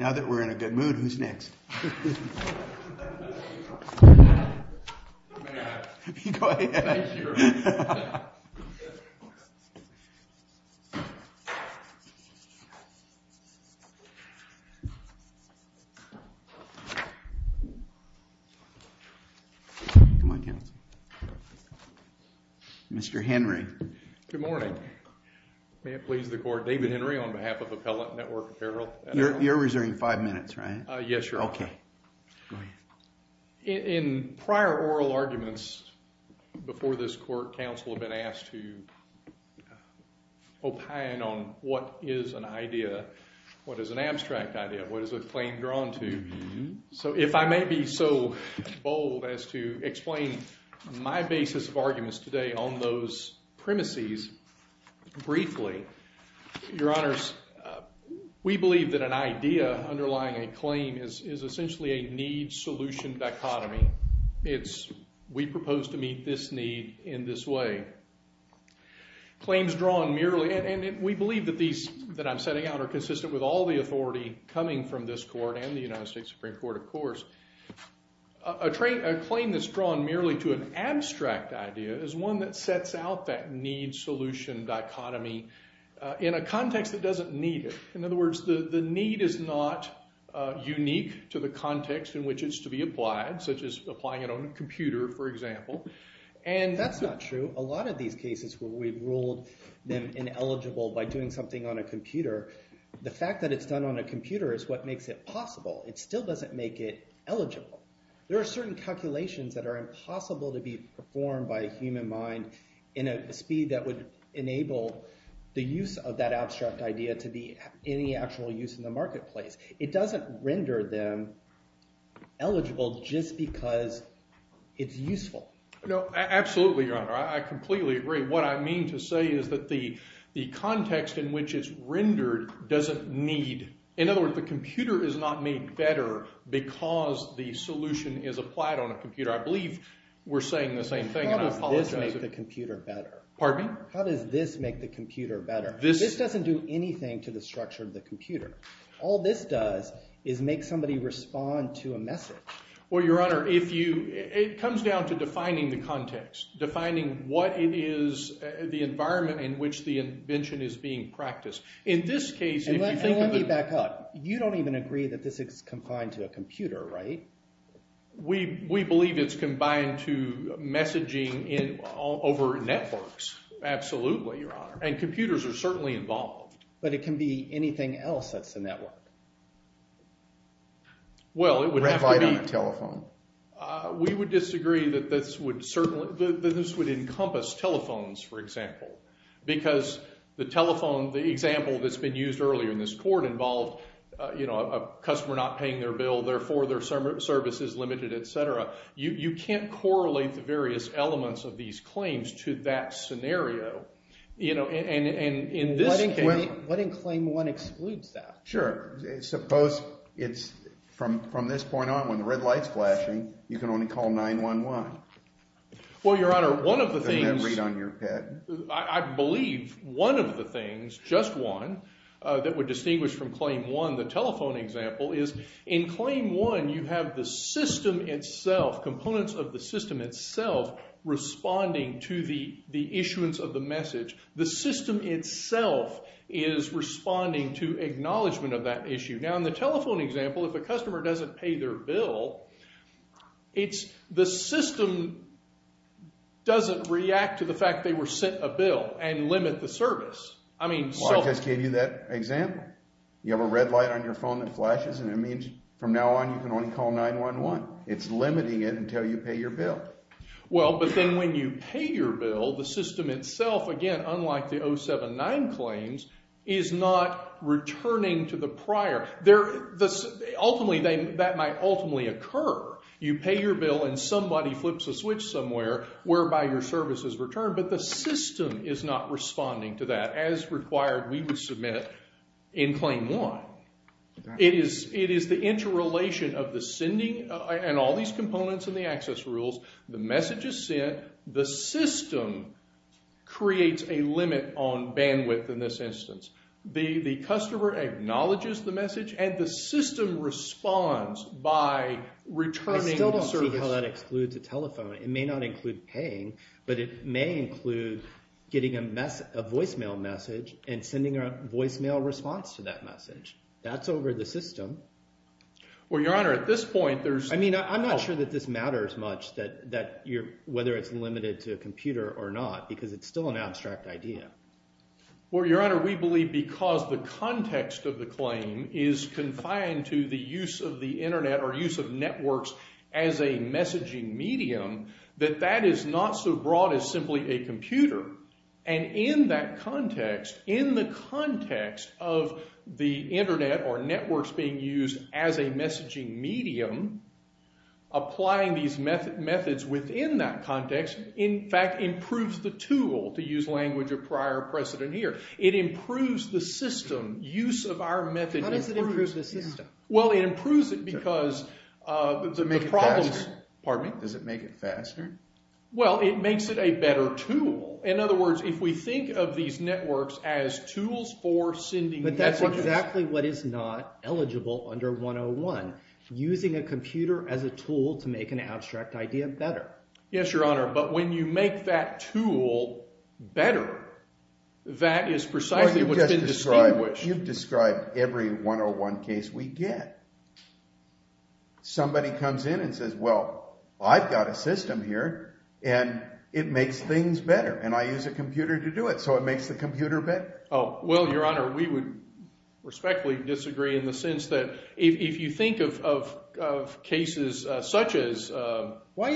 Now that we're in a good mood, who's next? Mr. Henry. Good morning. May it please the court, David Henry on behalf of Appellate Network Apparel. You're reserving five minutes, right? Yes, sir. Okay. Go ahead. In prior oral arguments before this court, counsel have been asked to opine on what is an idea, what is an abstract idea, what is a claim drawn to. So if I may be so bold as to explain my basis of arguments today on those premises briefly. Your honors, we believe that an idea underlying a claim is essentially a need-solution dichotomy. It's we propose to meet this need in this way. Claims drawn merely, and we believe that these that I'm setting out are consistent with all the authority coming from this court and the United States Supreme Court, of course. A claim that's drawn merely to an abstract idea is one that sets out that need-solution dichotomy in a context that doesn't need it. In other words, the need is not unique to the context in which it's to be applied, such as applying it on a computer, for example. That's not true. A lot of these cases where we ruled them ineligible by doing something on a computer, the fact that it's done on a computer is what makes it possible. It still doesn't make it eligible. There are certain calculations that are impossible to be performed by a human mind in a speed that would enable the use of that abstract idea to be any actual use in the marketplace. It doesn't render them eligible just because it's useful. No, absolutely, Your Honor. I completely agree. What I mean to say is that the context in which it's rendered doesn't need—in other words, the computer is not made better because the solution is applied on a computer. I believe we're saying the same thing, and I apologize if— How does this make the computer better? Pardon me? How does this make the computer better? This— This doesn't do anything to the structure of the computer. All this does is make somebody respond to a message. Well, Your Honor, if you—it comes down to defining the context, defining what it is—the environment in which the invention is being practiced. In this case, if you think of— And let me back up. You don't even agree that this is combined to a computer, right? We believe it's combined to messaging in—over networks. Absolutely, Your Honor. And computers are certainly involved. But it can be anything else that's a network. Well, it would have to be— We would disagree that this would certainly—that this would encompass telephones, for example, because the telephone—the example that's been used earlier in this court involved, you know, a customer not paying their bill, therefore their service is limited, et cetera. You can't correlate the various elements of these claims to that scenario. You know, and in this case— What in Claim 1 excludes that? Sure. Suppose it's—from this point on, when the red light's flashing, you can only call 911. Well, Your Honor, one of the things— Doesn't that read on your head? I believe one of the things, just one, that would distinguish from Claim 1, the telephone example, is in Claim 1 you have the system itself, components of the system itself, responding to the issuance of the message. The system itself is responding to acknowledgment of that issue. Now, in the telephone example, if a customer doesn't pay their bill, it's—the system doesn't react to the fact they were sent a bill and limit the service. I mean— Well, I just gave you that example. You have a red light on your phone that flashes, and it means from now on you can only call 911. It's limiting it until you pay your bill. Well, but then when you pay your bill, the system itself, again, unlike the 079 claims, is not returning to the prior. Ultimately, that might ultimately occur. You pay your bill, and somebody flips a switch somewhere whereby your service is returned, but the system is not responding to that as required we would submit in Claim 1. It is the interrelation of the sending and all these components in the access rules. The message is sent. The system creates a limit on bandwidth in this instance. The customer acknowledges the message, and the system responds by returning the service. I still don't see how that excludes a telephone. It may not include paying, but it may include getting a voicemail message and sending a voicemail response to that message. That's over the system. Well, Your Honor, at this point, there's— I mean I'm not sure that this matters much that you're—whether it's limited to a computer or not because it's still an abstract idea. Well, Your Honor, we believe because the context of the claim is confined to the use of the internet or use of networks as a messaging medium, that that is not so broad as simply a computer. And in that context, in the context of the internet or networks being used as a messaging medium, applying these methods within that context, in fact, improves the tool to use language of prior precedent here. It improves the system. Use of our method improves— How does it improve the system? Well, it improves it because the problems— Does it make it faster? Pardon me? Does it make it faster? Well, it makes it a better tool. In other words, if we think of these networks as tools for sending messages— But that's exactly what is not eligible under 101, using a computer as a tool to make an abstract idea better. Yes, Your Honor, but when you make that tool better, that is precisely what's been distinguished. You've described every 101 case we get. Somebody comes in and says, well, I've got a system here, and it makes things better, and I use a computer to do it, so it makes the computer better. Oh, well, Your Honor, we would respectfully disagree in the sense that if you think of cases such as Alice— By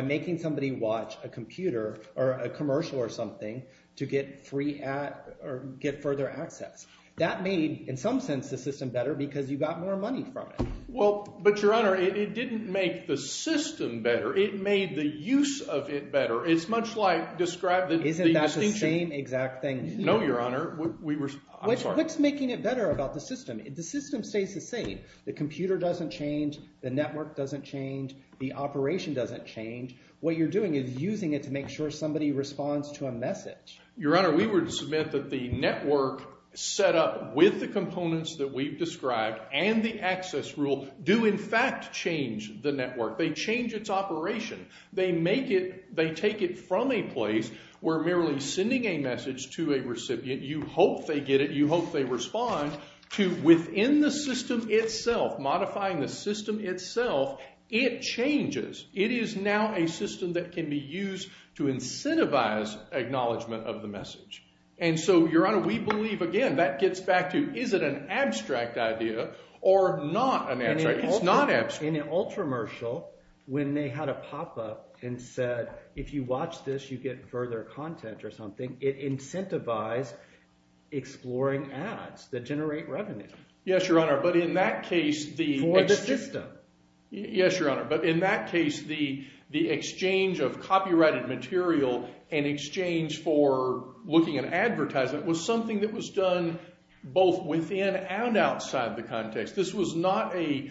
making somebody watch a computer or a commercial or something to get free—or get further access. That made, in some sense, the system better because you got more money from it. Well, but Your Honor, it didn't make the system better. It made the use of it better. It's much like describe the distinction— Isn't that the same exact thing? No, Your Honor. We were—I'm sorry. What's making it better about the system? The system stays the same. The computer doesn't change. The network doesn't change. The operation doesn't change. What you're doing is using it to make sure somebody responds to a message. Your Honor, we would submit that the network set up with the components that we've described and the access rule do in fact change the network. They change its operation. They take it from a place where merely sending a message to a recipient, you hope they get it, you hope they respond, to within the system itself, modifying the system itself, it changes. It is now a system that can be used to incentivize acknowledgment of the message. And so, Your Honor, we believe, again, that gets back to is it an abstract idea or not an abstract idea? In an ultramercial, when they had a pop-up and said, if you watch this, you get further content or something, it incentivized exploring ads that generate revenue. Yes, Your Honor, but in that case, the— For the system. Yes, Your Honor, but in that case, the exchange of copyrighted material and exchange for looking at advertisement was something that was done both within and outside the context. This was not a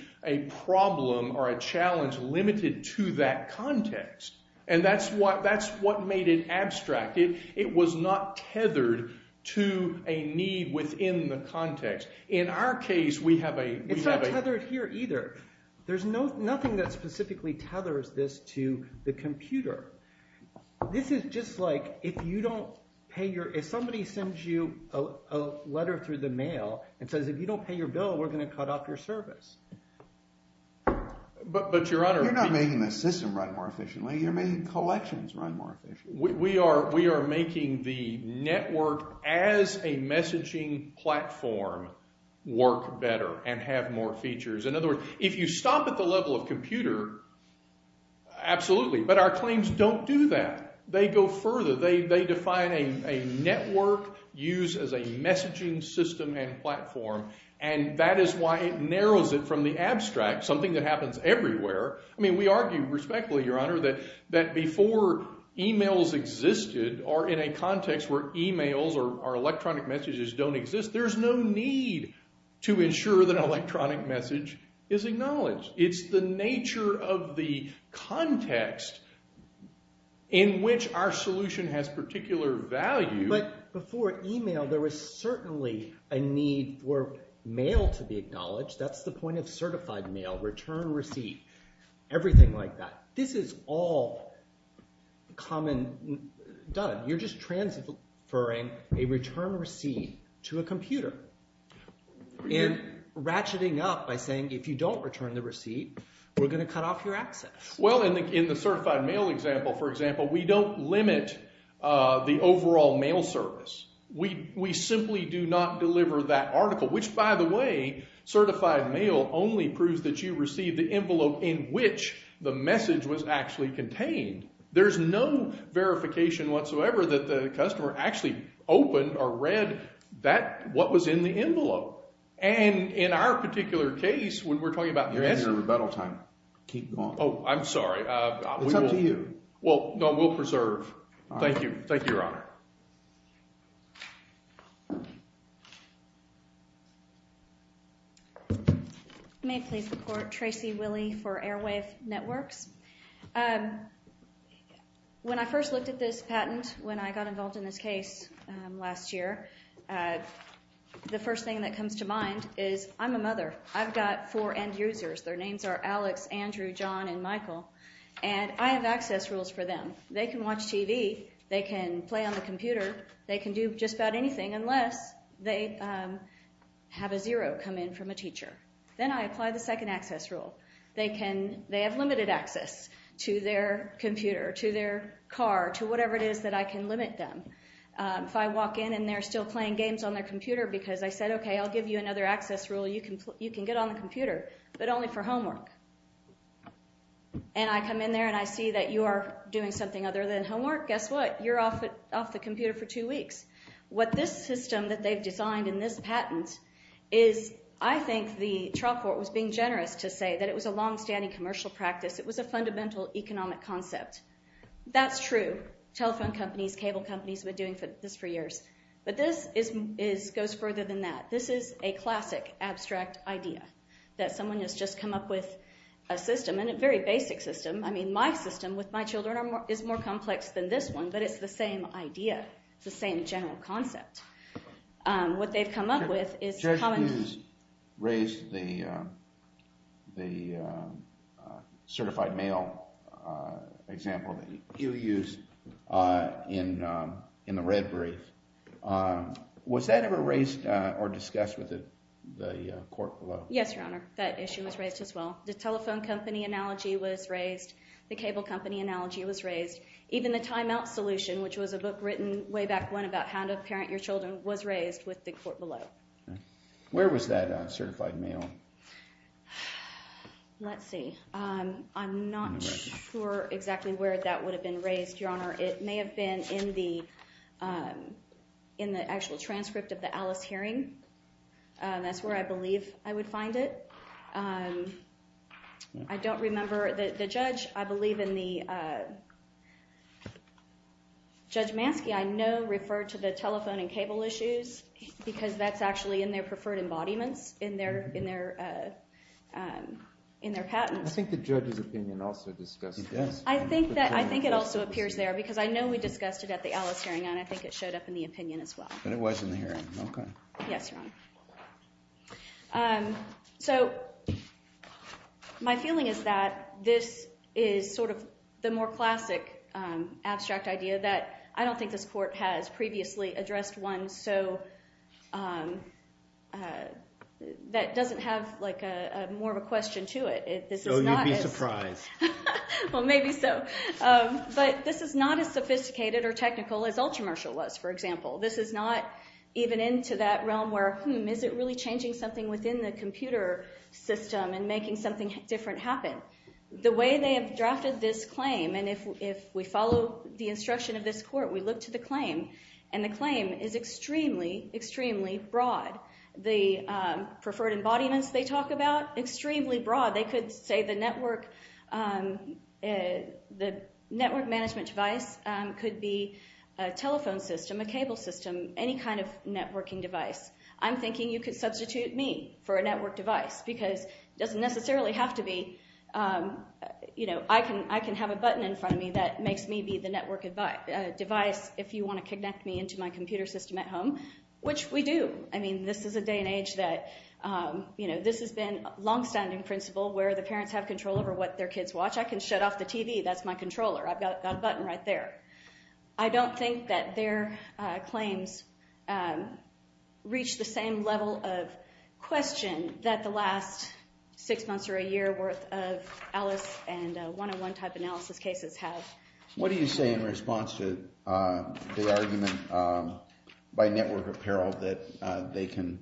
problem or a challenge limited to that context, and that's what made it abstract. It was not tethered to a need within the context. In our case, we have a— It's not tethered here either. There's nothing that specifically tethers this to the computer. This is just like if you don't pay your—if somebody sends you a letter through the mail and says, if you don't pay your bill, we're going to cut off your service. But, Your Honor— You're not making the system run more efficiently. You're making collections run more efficiently. We are making the network as a messaging platform work better and have more features. In other words, if you stop at the level of computer, absolutely, but our claims don't do that. They go further. They define a network used as a messaging system and platform, and that is why it narrows it from the abstract, something that happens everywhere. I mean we argue respectfully, Your Honor, that before emails existed or in a context where emails or electronic messages don't exist, there's no need to ensure that an electronic message is acknowledged. It's the nature of the context in which our solution has particular value. But before email, there was certainly a need for mail to be acknowledged. That's the point of certified mail, return receipt, everything like that. This is all common—done. You're just transferring a return receipt to a computer and ratcheting up by saying if you don't return the receipt, we're going to cut off your access. Well, in the certified mail example, for example, we don't limit the overall mail service. We simply do not deliver that article, which by the way, certified mail only proves that you received the envelope in which the message was actually contained. There's no verification whatsoever that the customer actually opened or read what was in the envelope. And in our particular case, when we're talking about— You're in your rebuttal time. Keep going. Oh, I'm sorry. It's up to you. Well, no, we'll preserve. Thank you. Thank you, Your Honor. Thank you. May it please the Court. Tracy Willey for Airwave Networks. When I first looked at this patent, when I got involved in this case last year, the first thing that comes to mind is I'm a mother. I've got four end users. Their names are Alex, Andrew, John, and Michael. And I have access rules for them. They can watch TV. They can play on the computer. They can do just about anything unless they have a zero come in from a teacher. Then I apply the second access rule. They have limited access to their computer, to their car, to whatever it is that I can limit them. If I walk in and they're still playing games on their computer because I said, okay, I'll give you another access rule. You can get on the computer, but only for homework. And I come in there and I see that you are doing something other than homework. Guess what? You're off the computer for two weeks. What this system that they've designed in this patent is I think the trial court was being generous to say that it was a longstanding commercial practice. It was a fundamental economic concept. That's true. Telephone companies, cable companies have been doing this for years. But this goes further than that. This is a classic abstract idea that someone has just come up with a system, and a very basic system. I mean my system with my children is more complex than this one, but it's the same idea. It's the same general concept. What they've come up with is- You raised the certified mail example that you used in the Red Breeze. Was that ever raised or discussed with the court below? Yes, Your Honor. That issue was raised as well. The telephone company analogy was raised. The cable company analogy was raised. Even the timeout solution, which was a book written way back when about how to parent your children, was raised with the court below. Where was that certified mail? Let's see. I'm not sure exactly where that would have been raised, Your Honor. It may have been in the actual transcript of the Alice hearing. That's where I believe I would find it. I don't remember the judge. I believe in the- Judge Manske, I know, referred to the telephone and cable issues, because that's actually in their preferred embodiments in their patents. I think the judge's opinion also discussed this. I think it also appears there, because I know we discussed it at the Alice hearing, and I think it showed up in the opinion as well. But it was in the hearing, okay. Yes, Your Honor. So my feeling is that this is sort of the more classic abstract idea that I don't think this court has previously addressed one that doesn't have more of a question to it. So you'd be surprised. Well, maybe so. But this is not as sophisticated or technical as Ultramershal was, for example. This is not even into that realm where, hmm, is it really changing something within the computer system and making something different happen? The way they have drafted this claim, and if we follow the instruction of this court, we look to the claim, and the claim is extremely, extremely broad. The preferred embodiments they talk about, extremely broad. They could say the network management device could be a telephone system, a cable system, any kind of networking device. I'm thinking you could substitute me for a network device because it doesn't necessarily have to be. I can have a button in front of me that makes me be the network device if you want to connect me into my computer system at home, which we do. I mean this is a day and age that this has been a longstanding principle where the parents have control over what their kids watch. I can shut off the TV. That's my controller. I've got a button right there. I don't think that their claims reach the same level of question that the last six months or a year worth of Alice and one-on-one type analysis cases have. What do you say in response to the argument by network apparel that they can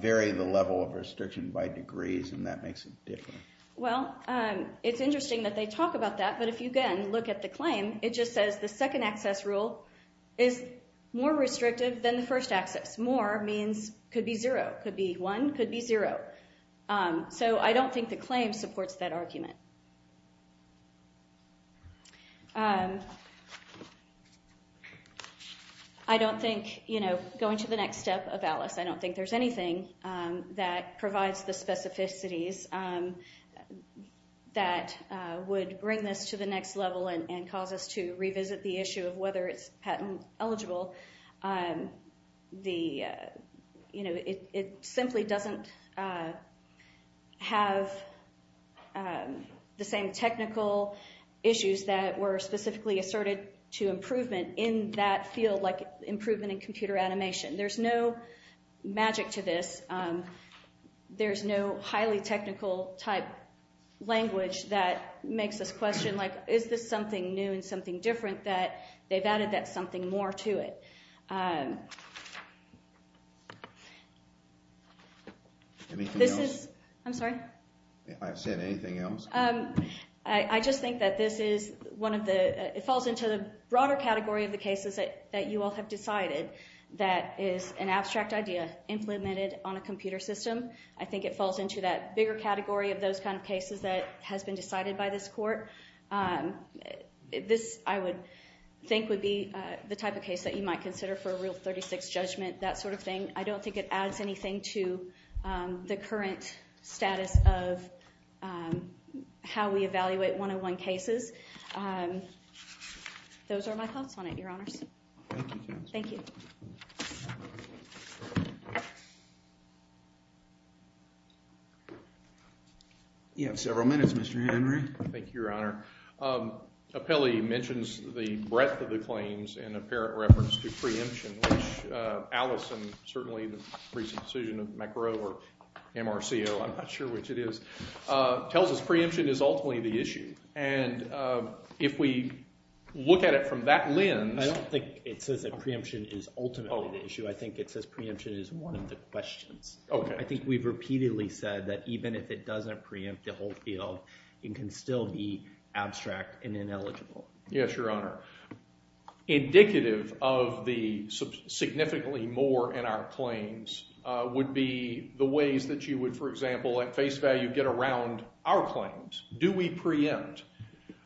vary the level of restriction by degrees and that makes it different? Well, it's interesting that they talk about that, but if you again look at the claim, it just says the second access rule is more restrictive than the first access. More means could be zero, could be one, could be zero. So I don't think the claim supports that argument. I don't think going to the next step of Alice, I don't think there's anything that provides the specificities that would bring this to the next level and cause us to revisit the issue of whether it's patent eligible. It simply doesn't have the same technical issues that were specifically asserted to improvement in that field like improvement in computer animation. There's no magic to this. There's no highly technical type language that makes us question like is this something new and something different that they've added that something more to it. Anything else? I'm sorry? I've said anything else. I just think that this falls into the broader category of the cases that you all have decided that is an abstract idea implemented on a computer system. I think it falls into that bigger category of those kind of cases that has been decided by this court. This, I would think, would be the type of case that you might consider for a Rule 36 judgment, that sort of thing. I don't think it adds anything to the current status of how we evaluate one-on-one cases. Those are my thoughts on it, Your Honors. Thank you. Thank you. You have several minutes, Mr. Henry. Thank you, Your Honor. Appelli mentions the breadth of the claims in apparent reference to preemption, which Allison, certainly in the recent decision of McGrow or MRCO, I'm not sure which it is, tells us preemption is ultimately the issue. And if we look at it from that lens— I don't think it says that preemption is ultimately the issue. I think it says preemption is one of the questions. Okay. I think we've repeatedly said that even if it doesn't preempt the whole field, it can still be abstract and ineligible. Yes, Your Honor. Indicative of the significantly more in our claims would be the ways that you would, for example, at face value, get around our claims. Do we preempt?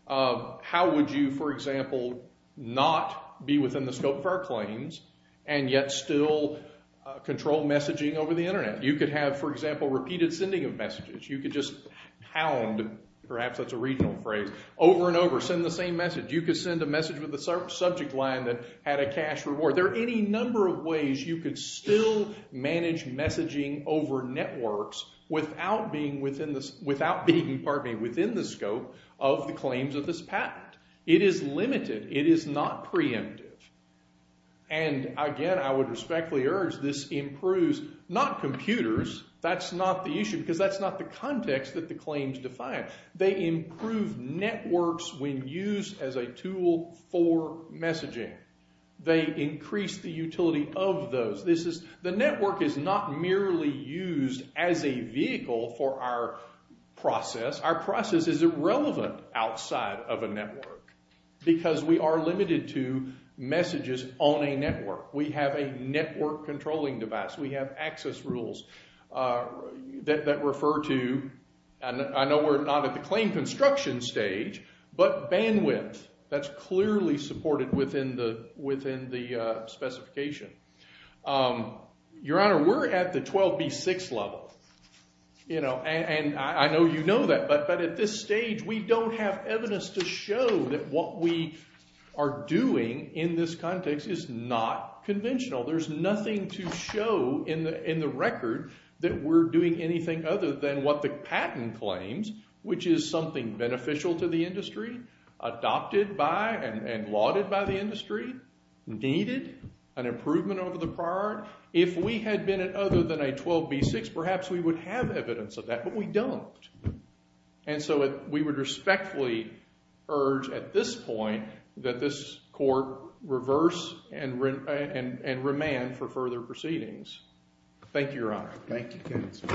How would you, for example, not be within the scope of our claims and yet still control messaging over the internet? You could have, for example, repeated sending of messages. You could just pound—perhaps that's a regional phrase—over and over, send the same message. You could send a message with a subject line that had a cash reward. There are any number of ways you could still manage messaging over networks without being within the scope of the claims of this patent. It is limited. It is not preemptive. And again, I would respectfully urge this improves not computers. That's not the issue because that's not the context that the claims define. They improve networks when used as a tool for messaging. They increase the utility of those. The network is not merely used as a vehicle for our process. Our process is irrelevant outside of a network because we are limited to messages on a network. We have a network controlling device. We have access rules that refer to—I know we're not at the claim construction stage, but bandwidth. That's clearly supported within the specification. Your Honor, we're at the 12B6 level. And I know you know that, but at this stage we don't have evidence to show that what we are doing in this context is not conventional. There's nothing to show in the record that we're doing anything other than what the patent claims, which is something beneficial to the industry, adopted by and lauded by the industry, needed an improvement over the prior. If we had been at other than a 12B6, perhaps we would have evidence of that, but we don't. And so we would respectfully urge at this point that this court reverse and remand for further proceedings. Thank you, Your Honor. Thank you, counsel.